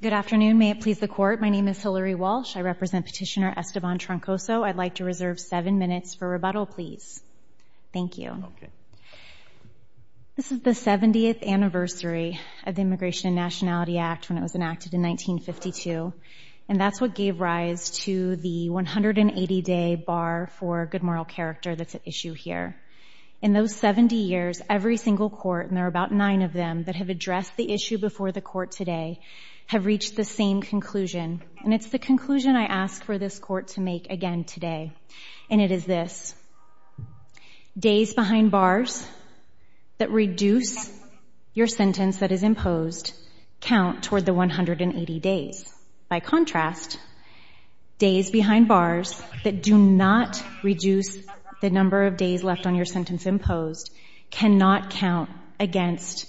Good afternoon. May it please the Court, my name is Hillary Walsh. I represent Petitioner Esteban Troncoso. I'd like to reserve 7 minutes for rebuttal, please. Thank you. This is the 70th anniversary of the Immigration and Nationality Act when it was enacted in 1952. And that's what gave rise to the 180-day bar for good moral character that's at issue here. In those 70 years, every single court, and there are about 9 of them that have addressed the issue before the Court today, have reached the same conclusion. And it's the conclusion I ask for this Court to make again today. And it is this. Days behind bars that reduce your sentence that is imposed count toward the 180 days. By contrast, days behind bars that do not reduce the number of days left on your sentence imposed cannot count against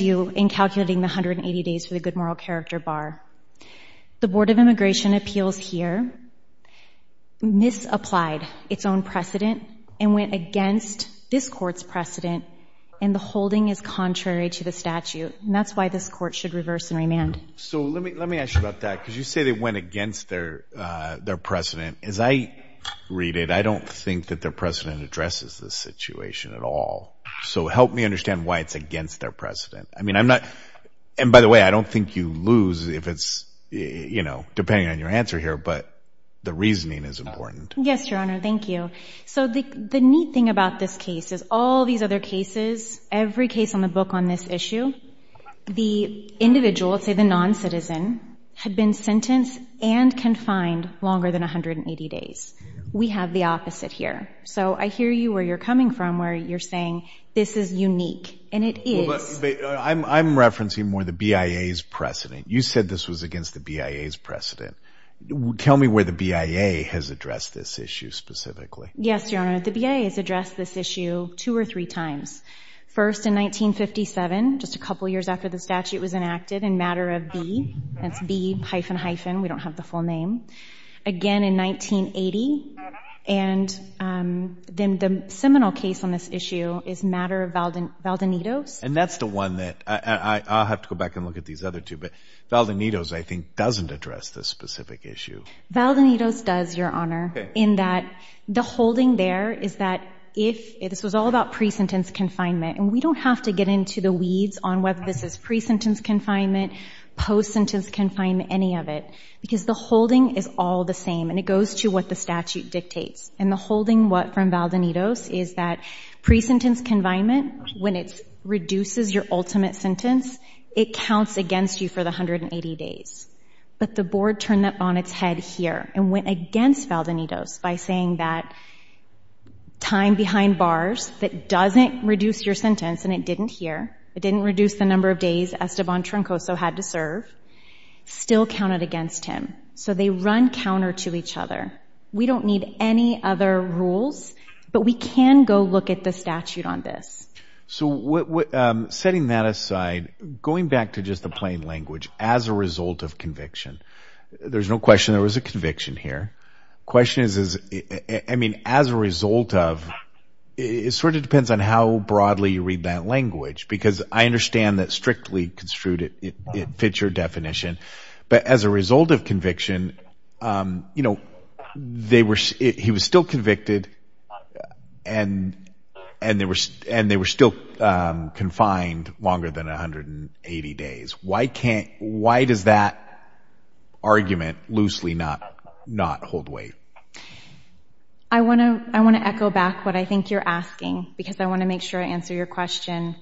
you in calculating the 180 days for the good moral character bar. The Board of Immigration Appeals here misapplied its own precedent and went against this Court's precedent, and the holding is contrary to the statute. And that's why this Court should reverse and remand. So let me ask you about that. Because you say they went against their precedent. As I read it, I don't think that their precedent addresses this situation at all. So help me understand why it's against their precedent. I mean, I'm not, and by the way, I don't think you lose if it's, you know, depending on your answer here, but the reasoning is important. Yes, Your Honor. Thank you. So the neat thing about this case is all these other cases, every case on the book on this issue, the individual, let's say the non-citizen, had been sentenced and confined longer than 180 days. We have the opposite here. So I hear you, where you're coming from, where you're saying this is unique, and it is. I'm referencing more the BIA's precedent. Tell me where the BIA has addressed this issue specifically. Yes, Your Honor. The BIA has addressed this issue two or three times. First in 1957, just a couple years after the statute was enacted, in matter of B. That's B hyphen hyphen. We don't have the full name. Again in 1980. And then the seminal case on this issue is matter of Valdonitos. And that's the one that, I'll have to go back and look at these other two, but Valdonitos I think doesn't address this specific issue. Valdonitos does, Your Honor, in that the holding there is that if, this was all about pre-sentence confinement, and we don't have to get into the weeds on whether this is pre-sentence confinement, post-sentence confinement, any of it, because the holding is all the same, and it goes to what the statute dictates. And the holding what from Valdonitos is that pre-sentence confinement, when it reduces your ultimate sentence, it counts against you for the 180 days. But the board turned that on its head here and went against Valdonitos by saying that time behind bars, that doesn't reduce your sentence, and it didn't here, it didn't reduce the number of days Esteban Troncoso had to serve, still counted against him. So they run counter to each other. We don't need any other rules, but we can go look at the statute on this. So setting that aside, going back to just the plain language, as a result of conviction, there's no question there was a conviction here. The question is, I mean, as a result of, it sort of depends on how broadly you read that language, because I understand that strictly construed it fits your definition, but as a result of conviction, you know, he was still convicted, and they were still confined longer than 180 days. Why does that argument loosely not hold weight? I want to echo back what I think you're asking, because I want to make sure I answer your question.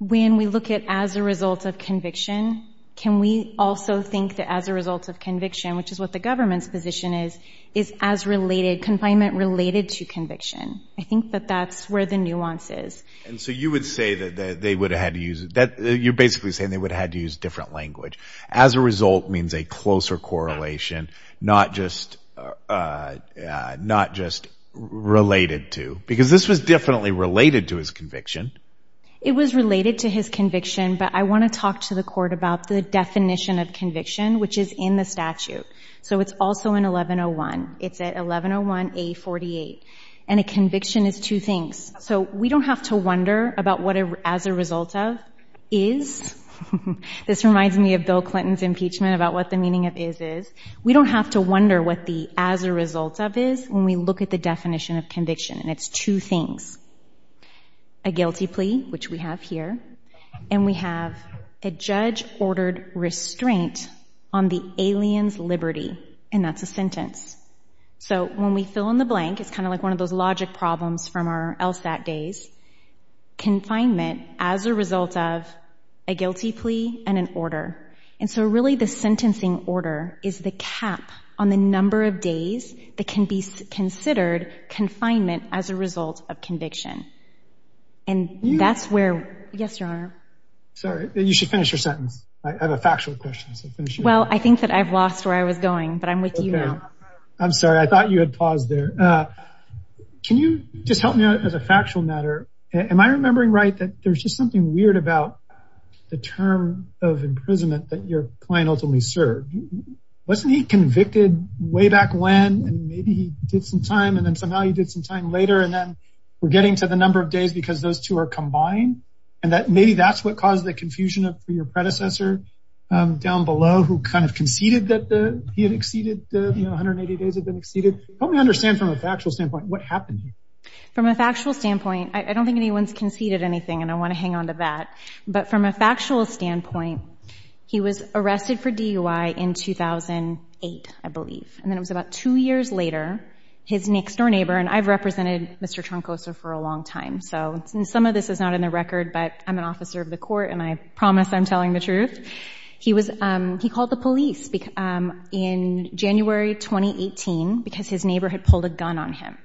When we look at as a result of conviction, can we also think that as a result of conviction, which is what the government's position is, is confinement related to conviction? I think that that's where the nuance is. And so you would say that they would have had to use, you're basically saying they would have had to use different language. As a result means a closer correlation, not just related to, because this was definitely related to his conviction. It was related to his conviction, but I want to talk to the court about the definition of conviction, which is in the statute, so it's also in 1101. It's at 1101A48, and a conviction is two things. So we don't have to wonder about what as a result of is. This reminds me of Bill Clinton's impeachment about what the meaning of is is. We don't have to wonder what the as a result of is when we look at the definition of conviction, and it's two things, a guilty plea, which we have here, and we have a judge-ordered restraint on the alien's liberty, and that's a sentence. So when we fill in the blank, it's kind of like one of those logic problems from our LSAT days, confinement as a result of a guilty plea and an order. And so really the sentencing order is the cap on the number of days that can be considered confinement as a result of conviction. And that's where, yes, Your Honor. Sorry, you should finish your sentence. I have a factual question. Well, I think that I've lost where I was going, but I'm with you now. I'm sorry. I thought you had paused there. Can you just help me out as a factual matter? Am I remembering right that there's just something weird about the term of imprisonment that your client ultimately served? Wasn't he convicted way back when, and maybe he did some time, and then somehow he did some time later, and then we're getting to the number of days because those two are combined? And maybe that's what caused the confusion for your predecessor down below who kind of conceded that he had exceeded the 180 days had been exceeded. Help me understand from a factual standpoint what happened here. From a factual standpoint, I don't think anyone's conceded anything, and I want to hang on to that. But from a factual standpoint, he was arrested for DUI in 2008, I believe. And then it was about two years later, his next-door neighbor, and I've represented Mr. Troncoso for a long time, and some of this is not in the record, but I'm an officer of the court, and I promise I'm telling the truth. He called the police in January 2018 because his neighbor had pulled a gun on him.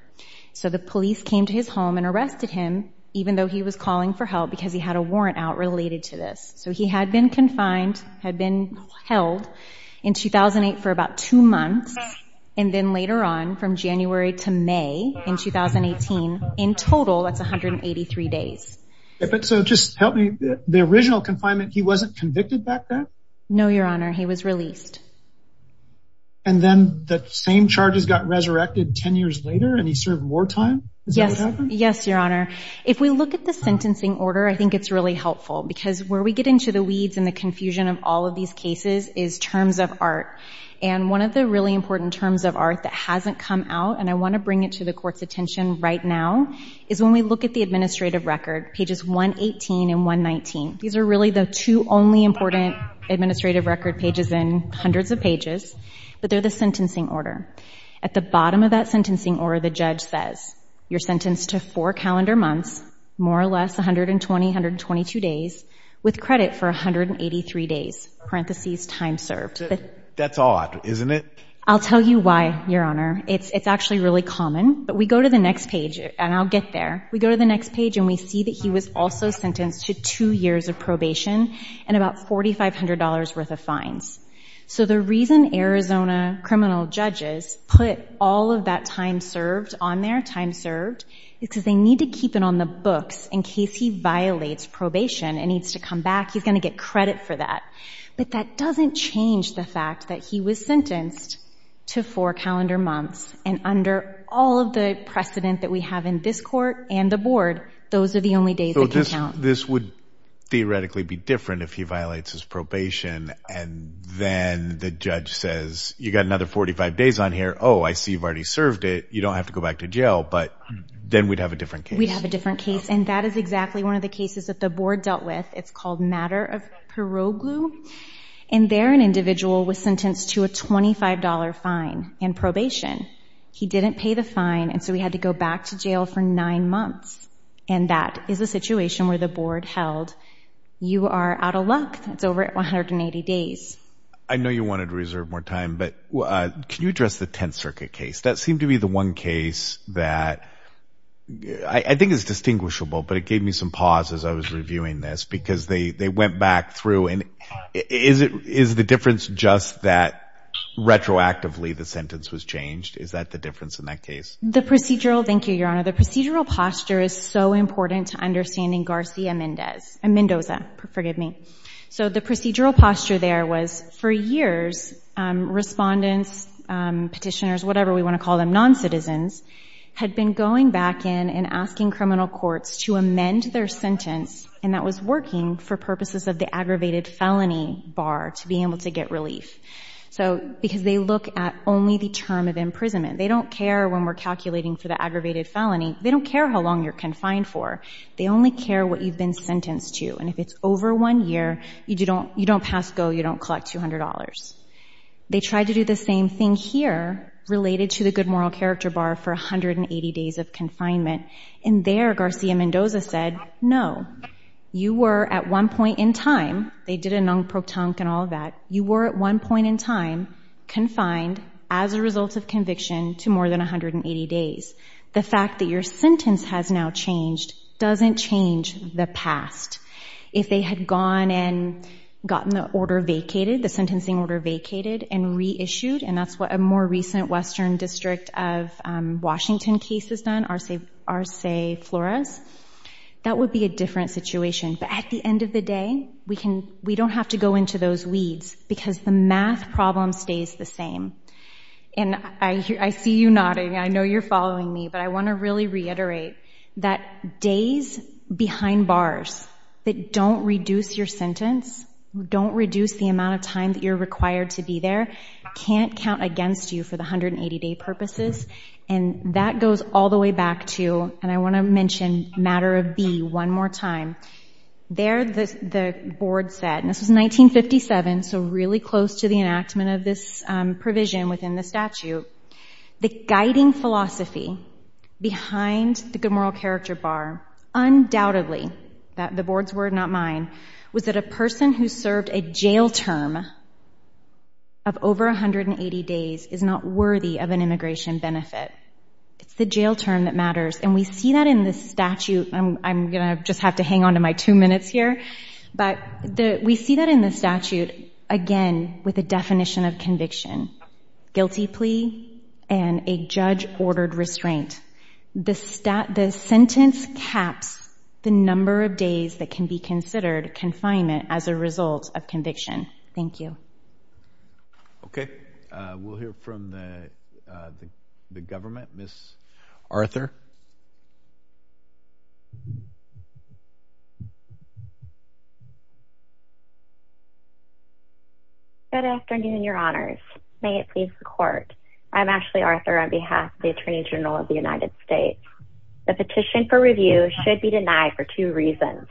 So the police came to his home and arrested him even though he was calling for help because he had a warrant out related to this. So he had been confined, had been held in 2008 for about two months, and then later on from January to May in 2018, in total that's 183 days. So just help me, the original confinement, he wasn't convicted back then? No, Your Honor, he was released. And then the same charges got resurrected 10 years later and he served more time? Yes, Your Honor. If we look at the sentencing order, I think it's really helpful because where we get into the weeds and the confusion of all of these cases is terms of art. And one of the really important terms of art that hasn't come out, and I want to bring it to the court's attention right now, is when we look at the administrative record, pages 118 and 119. These are really the two only important administrative record pages in hundreds of pages, but they're the sentencing order. At the bottom of that sentencing order, the judge says, you're sentenced to four calendar months, more or less 120, 122 days, with credit for 183 days, parentheses, time served. That's odd, isn't it? I'll tell you why, Your Honor. It's actually really common. But we go to the next page, and I'll get there. We go to the next page, and we see that he was also sentenced to two years of probation and about $4,500 worth of fines. So the reason Arizona criminal judges put all of that time served on there, time served, is because they need to keep it on the books in case he violates probation and needs to come back. He's going to get credit for that. But that doesn't change the fact that he was sentenced to four calendar months, and under all of the precedent that we have in this court and the board, those are the only days that can count. So this would theoretically be different if he violates his probation, and then the judge says, you've got another 45 days on here. Oh, I see you've already served it. You don't have to go back to jail. But then we'd have a different case. We'd have a different case, and that is exactly one of the cases that the board dealt with. It's called Matter of Piroglu. And there an individual was sentenced to a $25 fine in probation. He didn't pay the fine, and so he had to go back to jail for nine months. And that is a situation where the board held, you are out of luck. That's over 180 days. I know you wanted to reserve more time, but can you address the Tenth Circuit case? That seemed to be the one case that I think is distinguishable, but it gave me some pause as I was reviewing this because they went back through. Is the difference just that retroactively the sentence was changed? Is that the difference in that case? Thank you, Your Honor. The procedural posture is so important to understanding Garcia Mendoza. So the procedural posture there was, for years, respondents, petitioners, whatever we want to call them, non-citizens, had been going back in and asking criminal courts to amend their sentence, and that was working for purposes of the aggravated felony bar to be able to get relief. Because they look at only the term of imprisonment. They don't care when we're calculating for the aggravated felony. They don't care how long you're confined for. They only care what you've been sentenced to, and if it's over one year, you don't pass go, you don't collect $200. They tried to do the same thing here, related to the good moral character bar for 180 days of confinement, and there Garcia Mendoza said, no, you were, at one point in time, they did a non-protonc and all of that, you were at one point in time confined as a result of conviction to more than 180 days. The fact that your sentence has now changed doesn't change the past. If they had gone and gotten the order vacated, the sentencing order vacated and reissued, and that's what a more recent Western District of Washington case has done, Arce Flores, that would be a different situation. But at the end of the day, we don't have to go into those weeds because the math problem stays the same. And I see you nodding, I know you're following me, but I want to really reiterate that days behind bars that don't reduce your sentence, don't reduce the amount of time that you're required to be there, can't count against you for the 180-day purposes, and that goes all the way back to, and I want to mention matter of B one more time, there the board said, and this was 1957, so really close to the enactment of this provision within the statute, the guiding philosophy behind the good moral character bar, undoubtedly, the board's word, not mine, was that a person who served a jail term of over 180 days is not worthy of an immigration benefit. It's the jail term that matters, and we see that in the statute, and I'm going to just have to hang on to my two minutes here, but we see that in the statute, again, with a definition of conviction, guilty plea and a judge-ordered restraint. The sentence caps the number of days that can be considered confinement as a result of conviction. Thank you. Okay. We'll hear from the government. Ms. Arthur. Good afternoon, Your Honors. May it please the Court. I'm Ashley Arthur on behalf of the Attorney General of the United States. The petition for review should be denied for two reasons.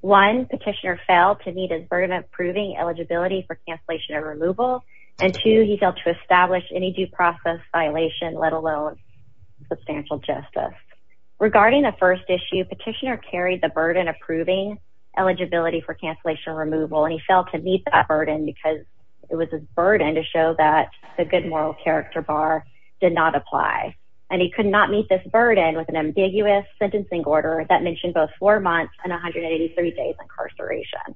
One, petitioner failed to meet his burden of proving eligibility for cancellation or removal, and two, he failed to establish any due process violation, let alone substantial justice. Regarding the first issue, petitioner carried the burden of proving eligibility for cancellation or removal, and he failed to meet that burden because it was his burden to show that the good moral character bar did not apply, and he could not meet this burden with an ambiguous sentencing order that mentioned both four months and 183 days incarceration.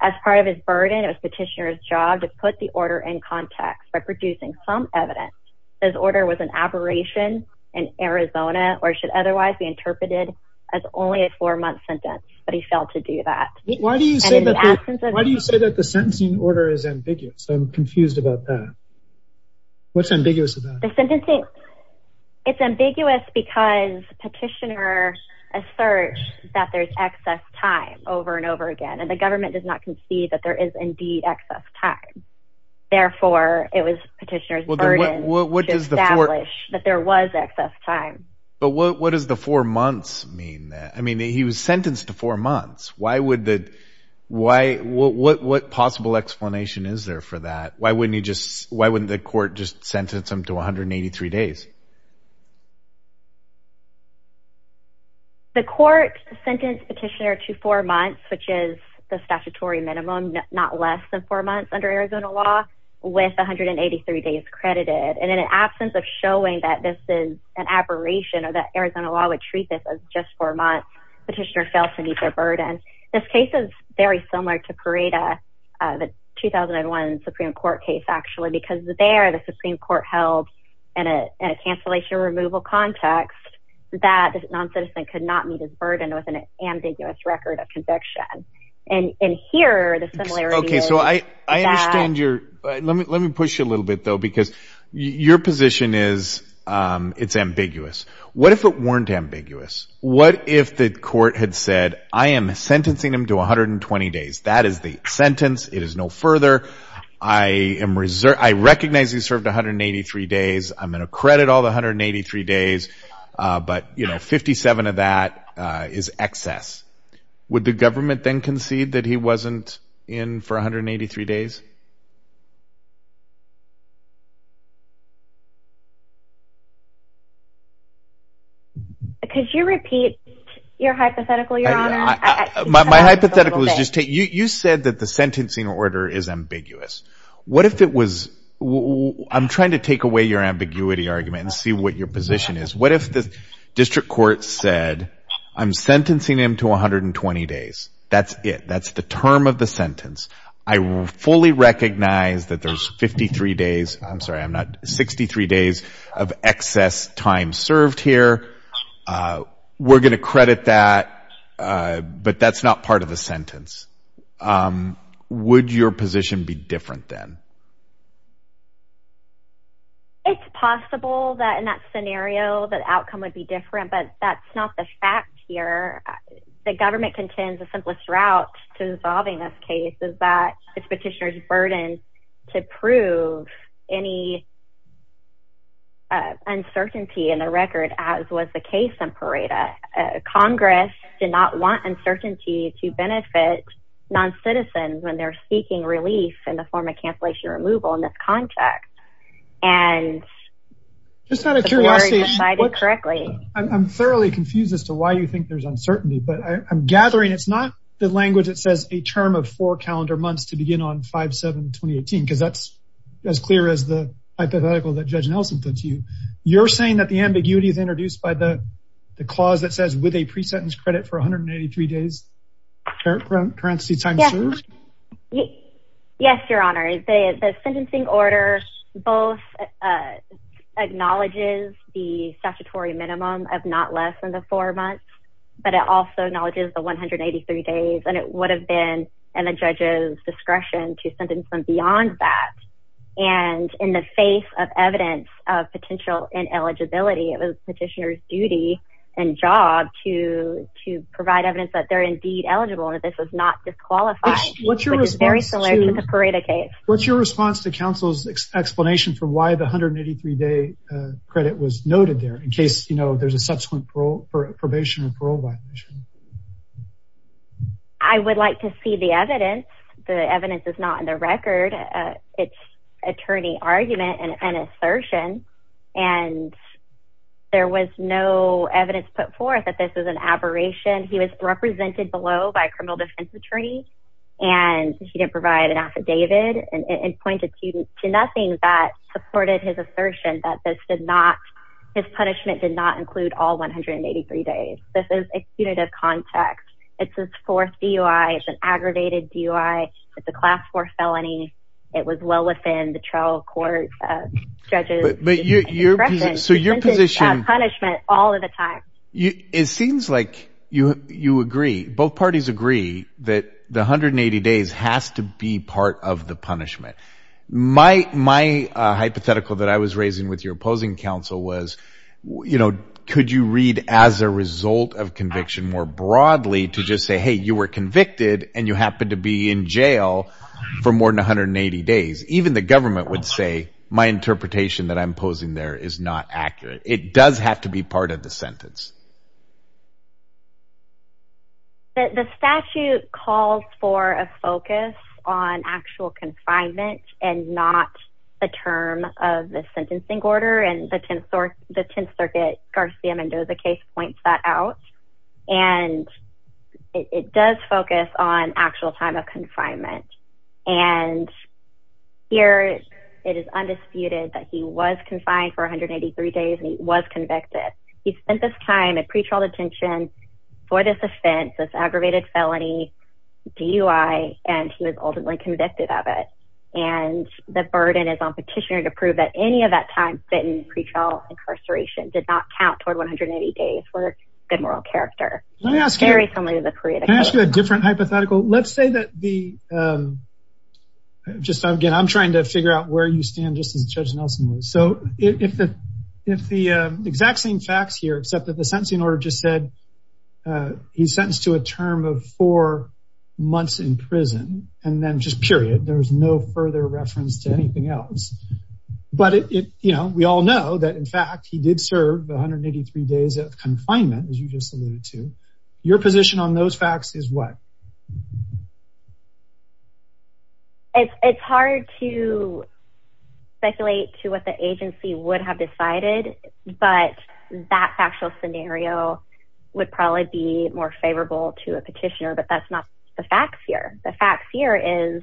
As part of his burden, it was petitioner's job to put the order in context by producing some evidence that his order was an aberration in Arizona or should otherwise be interpreted as only a four-month sentence, but he failed to do that. Why do you say that the sentencing order is ambiguous? I'm confused about that. What's ambiguous about it? It's ambiguous because petitioner asserts that there's excess time over and over again, and the government does not concede that there is indeed excess time. Therefore, it was petitioner's burden to establish that there was excess time. But what does the four months mean? I mean, he was sentenced to four months. What possible explanation is there for that? Why wouldn't the court just sentence him to 183 days? The court sentenced petitioner to four months, which is the statutory minimum, not less than four months under Arizona law, with 183 days credited. And in an absence of showing that this is an aberration or that Arizona law would treat this as just four months, petitioner failed to meet their burden. This case is very similar to Pareda, the 2001 Supreme Court case, actually, because there, the Supreme Court held an attempt that the noncitizen could not meet his burden with an ambiguous record of conviction. And here, the similarity is that... Okay, so I understand your... Let me push you a little bit, though, because your position is it's ambiguous. What if it weren't ambiguous? What if the court had said, I am sentencing him to 120 days. That is the sentence. It is no further. I recognize he served 183 days. I'm going to credit all the 183 days, but, you know, 57 of that is excess. Would the government then concede that he wasn't in for 183 days? Could you repeat your hypothetical, Your Honor? My hypothetical is just take... You said that the sentencing order is ambiguous. What if it was... I'm trying to take away your ambiguity argument and see what your position is. What if the district court said, I'm sentencing him to 120 days. That's it. That's the term of the sentence. I fully recognize that there's 53 days... I'm sorry, I'm not... 63 days of excess time served here. We're going to credit that, but that's not part of the sentence. Would your position be different then? It's possible that in that scenario, that outcome would be different, but that's not the fact here. The government contends the simplest route to resolving this case is that it's petitioner's burden to prove any uncertainty in the record, as was the case in Pareto. Congress did not want uncertainty to benefit non-citizens when they're seeking relief in the form of cancellation removal in this context. Just out of curiosity... I'm thoroughly confused as to why you think there's uncertainty, but I'm gathering it's not the language that says a term of four calendar months to begin on 5-7-2018, because that's as clear as the hypothetical that Judge Nelson put to you. You're saying that the ambiguity is introduced by the clause that says, with a pre-sentence credit for 183 days, parenthesis times two? Yes, Your Honor. The sentencing order both acknowledges the statutory minimum of not less than the four months, but it also acknowledges the 183 days, and it would have been in the judge's discretion to sentence them beyond that. And in the face of evidence of potential ineligibility, it was petitioner's duty and job to provide evidence that they're indeed eligible and that this was not disqualified, which is very similar to the Pareto case. What's your response to counsel's explanation for why the 183-day credit was noted there in case there's a subsequent probation or parole violation? I would like to see the evidence. The evidence is not in the record. It's attorney argument and assertion, and there was no evidence put forth that this was an aberration. He was represented below by a criminal defense attorney, and he didn't provide an affidavit and pointed to nothing that supported his assertion that his punishment did not include all 183 days. This is a punitive context. It's his fourth DUI. It's an aggravated DUI. It's a Class IV felony. It was well within the trial court's judges' discretion. So your position... Sentencing is a punishment all of the time. It seems like you agree. Both parties agree that the 180 days has to be part of the punishment. My hypothetical that I was raising with your opposing counsel was, could you read as a result of conviction more broadly to just say, hey, you were convicted and you happened to be in jail for more than 180 days? Even the government would say, my interpretation that I'm posing there is not accurate. It does have to be part of the sentence. The statute calls for a focus on actual confinement and not the term of the sentencing order, and the Tenth Circuit Garcia Mendoza case points that out. And it does focus on actual time of confinement. And here it is undisputed that he was confined for 183 days and he was convicted. He spent this time at pretrial detention for this offense, this aggravated felony DUI, and he was ultimately convicted of it. And the burden is on Petitioner to prove that any of that time spent in pretrial incarceration did not count toward 180 days for good moral character. Very similar to the creative case. Can I ask you a different hypothetical? Let's say that the... Again, I'm trying to figure out where you stand just as Judge Nelson would. So if the exact same facts here, except that the sentencing order just said he's sentenced to a term of four months in prison, and then just period, there's no further reference to anything else. But we all know that, in fact, he did serve 183 days of confinement, as you just alluded to. Your position on those facts is what? It's hard to speculate to what the agency would have decided, but that factual scenario would probably be more favorable to a petitioner, but that's not the facts here. The facts here is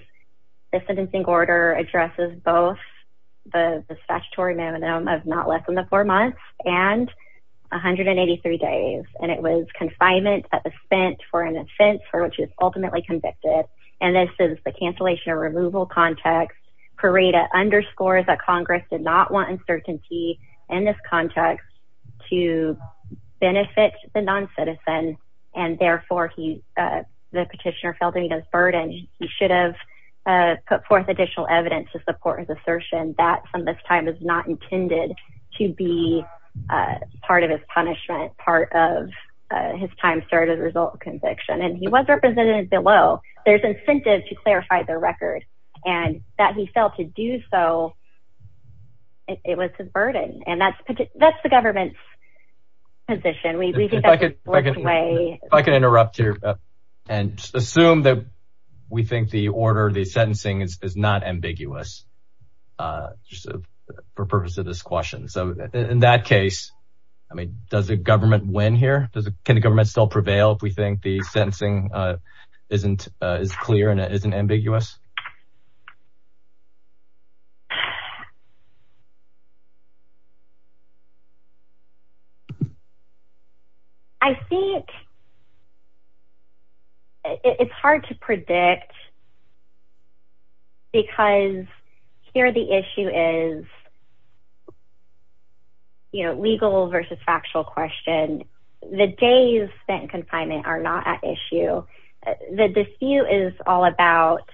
the sentencing order addresses both the statutory minimum of not less than the four months and 183 days, and it was confinement that was spent for an offense for which he was ultimately convicted. And this is the cancellation or removal context. Parada underscores that Congress did not want uncertainty in this context to benefit the non-citizen, and therefore the petitioner felt that he was burdened. He should have put forth additional evidence to support his assertion that from this time is not intended part of his time served as a result of conviction. And he was represented below. There's incentive to clarify the record and that he felt to do so, it was his burden. And that's the government's position. If I could interrupt here and assume that we think the order, the sentencing is not ambiguous for purpose of this question. So in that case, I mean, does the government win here? Can the government still prevail if we think the sentencing isn't as clear and it isn't ambiguous? I think it's hard to predict because here the issue is, you know, legal versus factual question. And the days spent in confinement are not at issue. The dispute is all about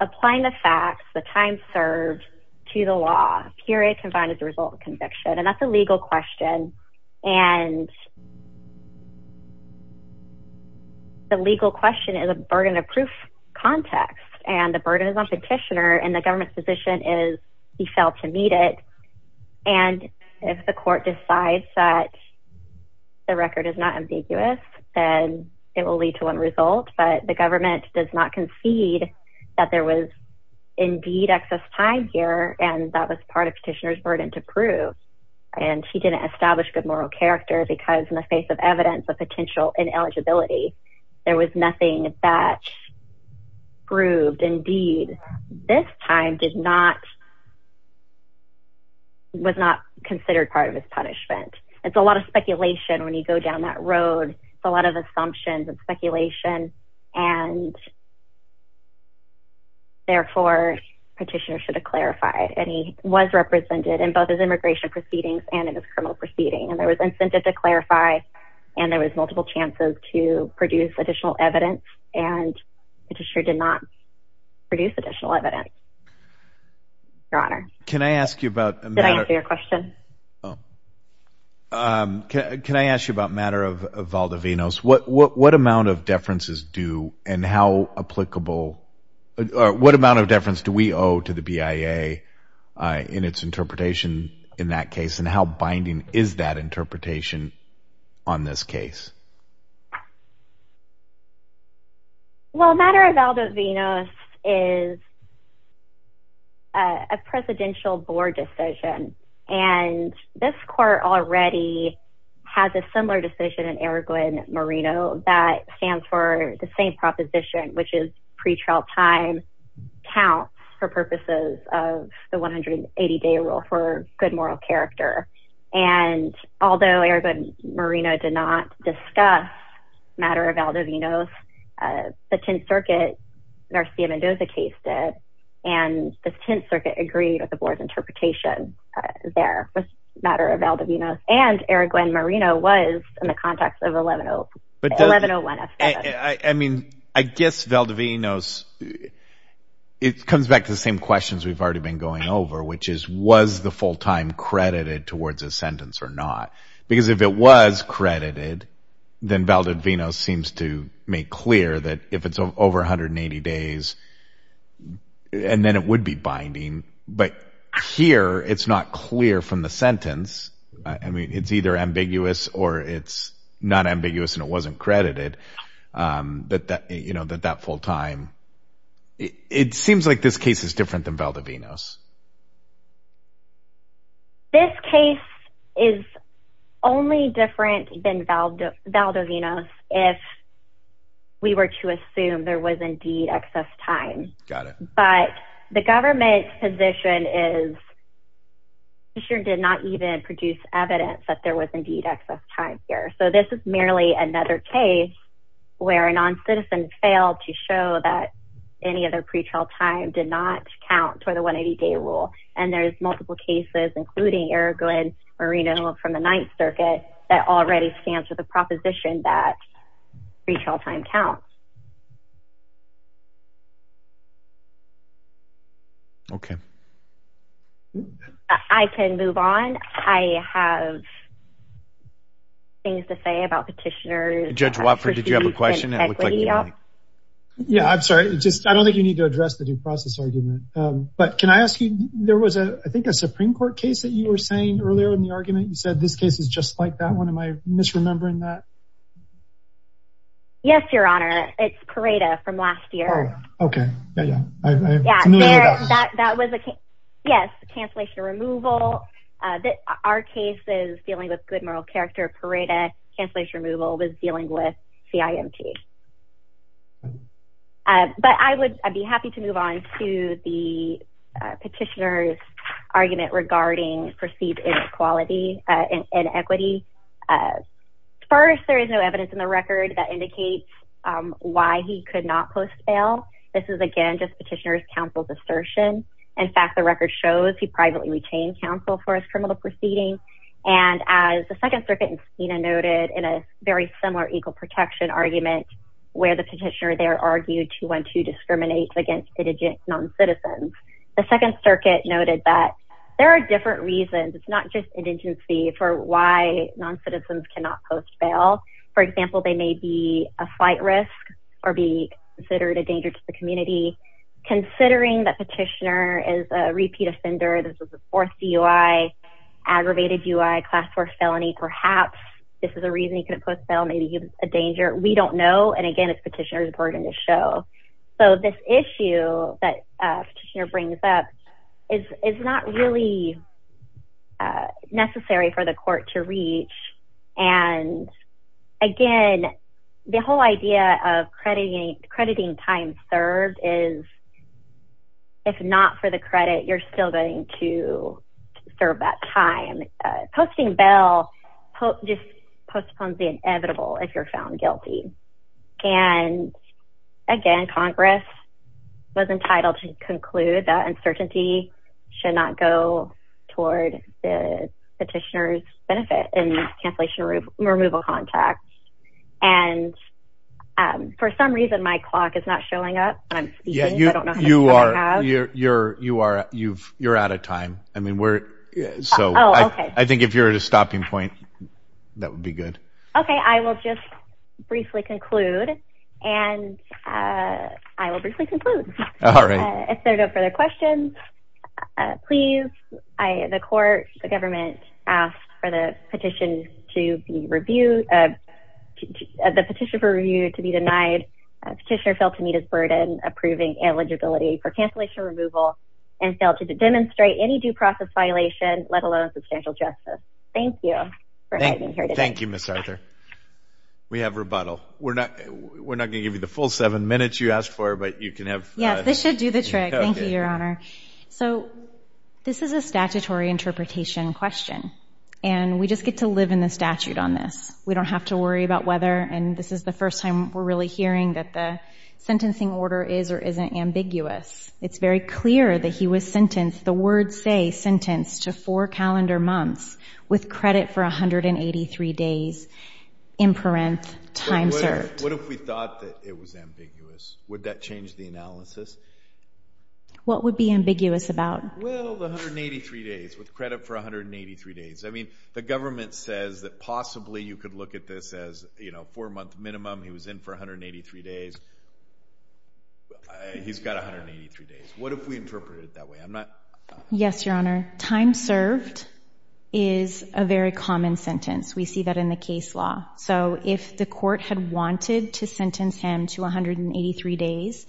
applying the facts, the time served to the law, period confined as a result of conviction. And that's a legal question. And the legal question is a burden of proof context. And the burden is on petitioner and the government's position is he failed to meet it. And if the court decides that the record is not ambiguous, then it will lead to one result. But the government does not concede that there was indeed excess time here. And that was part of petitioner's burden to prove. And she didn't establish good moral character because in the face of evidence of potential ineligibility, there was nothing that proved indeed. And this time was not considered part of his punishment. It's a lot of speculation when you go down that road. It's a lot of assumptions and speculation. And therefore, petitioner should have clarified. And he was represented in both his immigration proceedings and in his criminal proceeding. And there was incentive to clarify and there was multiple chances to produce additional evidence. And the petitioner did not produce additional evidence. Your Honor. Can I ask you about a matter of... Did I answer your question? Can I ask you about a matter of Valdivinos? What amount of deference do we owe to the BIA in its interpretation in that case? And how binding is that interpretation on this case? Well, a matter of Valdivinos is a presidential board decision. And this court already has a similar decision in Aragon Marino that stands for the same proposition, which is pretrial time counts for purposes of the 180-day rule or for good moral character. And although Aragon Marino did not discuss matter of Valdivinos, the Tenth Circuit, Narcia Mendoza, cased it. And the Tenth Circuit agreed with the board's interpretation there with matter of Valdivinos. And Aragon Marino was in the context of 1101S7. I mean, I guess Valdivinos, it comes back to the same questions we've already been going over, which is was the full time credited towards a sentence or not? Because if it was credited, then Valdivinos seems to make clear that if it's over 180 days, and then it would be binding. But here, it's not clear from the sentence. I mean, it's either ambiguous or it's not ambiguous and it wasn't credited, that that full time. It seems like this case is different than Valdivinos. This case is only different than Valdivinos if we were to assume there was indeed excess time. Got it. But the government's position is it did not even produce evidence that there was indeed excess time here. So this is merely another case where a non-citizen failed to show that any other pretrial time did not count for the 180-day rule. And there's multiple cases, including Aragon Marino from the Ninth Circuit, that already stands with the proposition that pretrial time counts. Okay. I can move on. I have things to say about petitioners. Judge Watford, did you have a question? Yeah, I'm sorry. I don't think you need to address the due process argument. But can I ask you, there was, I think, a Supreme Court case that you were saying earlier in the argument. You said this case is just like that one. Am I misremembering that? Yes, Your Honor. It's Pareto from last year. Okay. I'm familiar with that. Yes, cancellation removal. Our case is dealing with good moral character. Pareto cancellation removal was dealing with CIMT. But I would be happy to move on to the petitioner's argument regarding perceived inequality and inequity. First, there is no evidence in the record that indicates why he could not post bail. This is, again, just petitioner's counsel's assertion. In fact, the record shows he privately retained counsel for his criminal proceedings. And as the Second Circuit noted in a very similar equal protection argument where the petitioner there argued 212 discriminates against indigent noncitizens, the Second Circuit noted that there are different reasons, it's not just indigency, for why noncitizens cannot post bail. For example, they may be a slight risk or be considered a danger to the community. Considering that petitioner is a repeat offender, this is the fourth DUI, aggravated DUI, class 4 felony, perhaps this is a reason he couldn't post bail, maybe he was a danger. We don't know. And again, it's petitioner's burden to show. So this issue that petitioner brings up is not really necessary for the court to reach. And again, the whole idea of crediting time served is if not for the credit, you're still going to serve that time. Posting bail just postpones the inevitable if you're found guilty. And again, Congress was entitled to conclude that uncertainty should not go toward the petitioner's benefit in this cancellation removal contract. And for some reason, my clock is not showing up. I'm speaking. I don't know how to turn it off. You're out of time. So I think if you're at a stopping point, that would be good. OK, I will just briefly conclude. And I will briefly conclude. All right. If there are no further questions, please. The court, the government asked for the petition to be reviewed. The petition for review to be denied. Petitioner failed to meet his burden approving eligibility for cancellation removal and failed to demonstrate any due process violation, let alone substantial justice. Thank you for having me here today. Thank you, Ms. Arthur. We have rebuttal. We're not going to give you the full seven minutes you asked for, but you can have. Yes, this should do the trick. Thank you, Your Honor. So this is a statutory interpretation question. And we just get to live in the statute on this. We don't have to worry about whether, and this is the first time we're really hearing, that the sentencing order is or isn't ambiguous. It's very clear that he was sentenced, the words say, sentenced to four calendar months with credit for 183 days, imperanth, time served. What if we thought that it was ambiguous? Would that change the analysis? What would be ambiguous about? Well, the 183 days, with credit for 183 days. I mean, the government says that possibly you could look at this as four month minimum, he was in for 183 days. He's got 183 days. What if we interpreted it that way? Yes, Your Honor. Time served is a very common sentence. We see that in the case law. So if the court had wanted to sentence him to 183 days,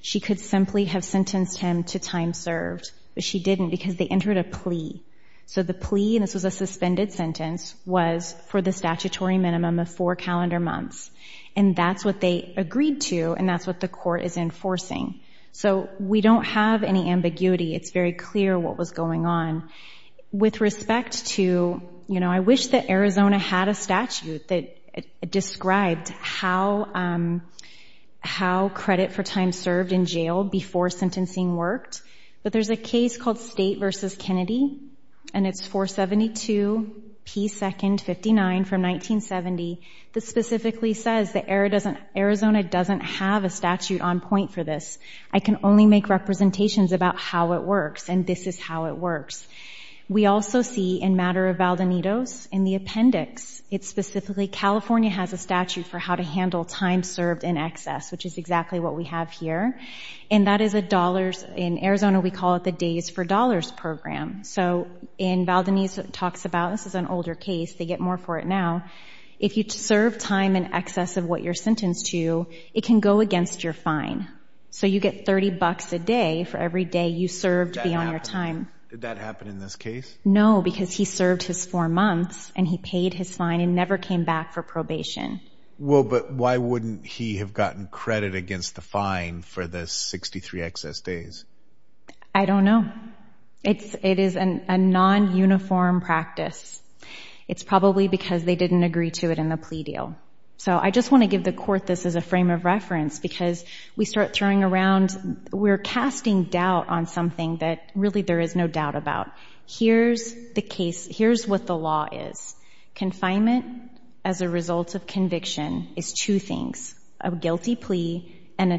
she could simply have sentenced him to time served. But she didn't because they entered a plea. So the plea, and this was a suspended sentence, was for the statutory minimum of four calendar months. And that's what they agreed to, and that's what the court is enforcing. So we don't have any ambiguity. It's very clear what was going on. With respect to, you know, I wish that Arizona had a statute that described how credit for time served in jail before sentencing worked. But there's a case called State v. Kennedy, and it's 472 P. 2nd 59 from 1970. This specifically says that Arizona doesn't have a statute on point for this. I can only make representations about how it works, and this is how it works. We also see in matter of Valdonitos in the appendix, it's specifically California has a statute for how to handle time served in excess, which is exactly what we have here. And that is a dollars, in Arizona we call it the Days for Dollars program. So in Valdonitos it talks about, this is an older case, they get more for it now, if you serve time in excess of what you're sentenced to, it can go against your fine. So you get $30 a day for every day you served beyond your time. Did that happen in this case? No, because he served his four months, and he paid his fine and never came back for probation. Well, but why wouldn't he have gotten credit against the fine for the 63 excess days? I don't know. It is a non-uniform practice. It's probably because they didn't agree to it in the plea deal. So I just want to give the court this as a frame of reference because we start throwing around, we're casting doubt on something that really there is no doubt about. Here's the case, here's what the law is. Confinement as a result of conviction is two things, a guilty plea and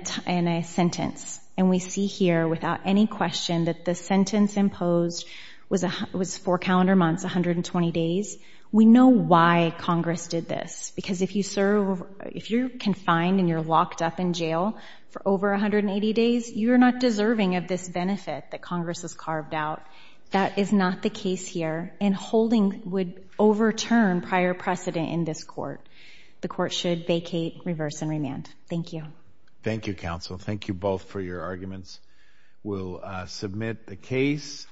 a sentence. And we see here without any question that the sentence imposed was four calendar months, 120 days. We know why Congress did this, because if you serve, if you're confined and you're locked up in jail for over 180 days, you're not deserving of this benefit that Congress has carved out. That is not the case here, and holding would overturn prior precedent in this court. The court should vacate, reverse, and remand. Thank you. Thank you, counsel. Thank you both for your arguments. We'll submit the case.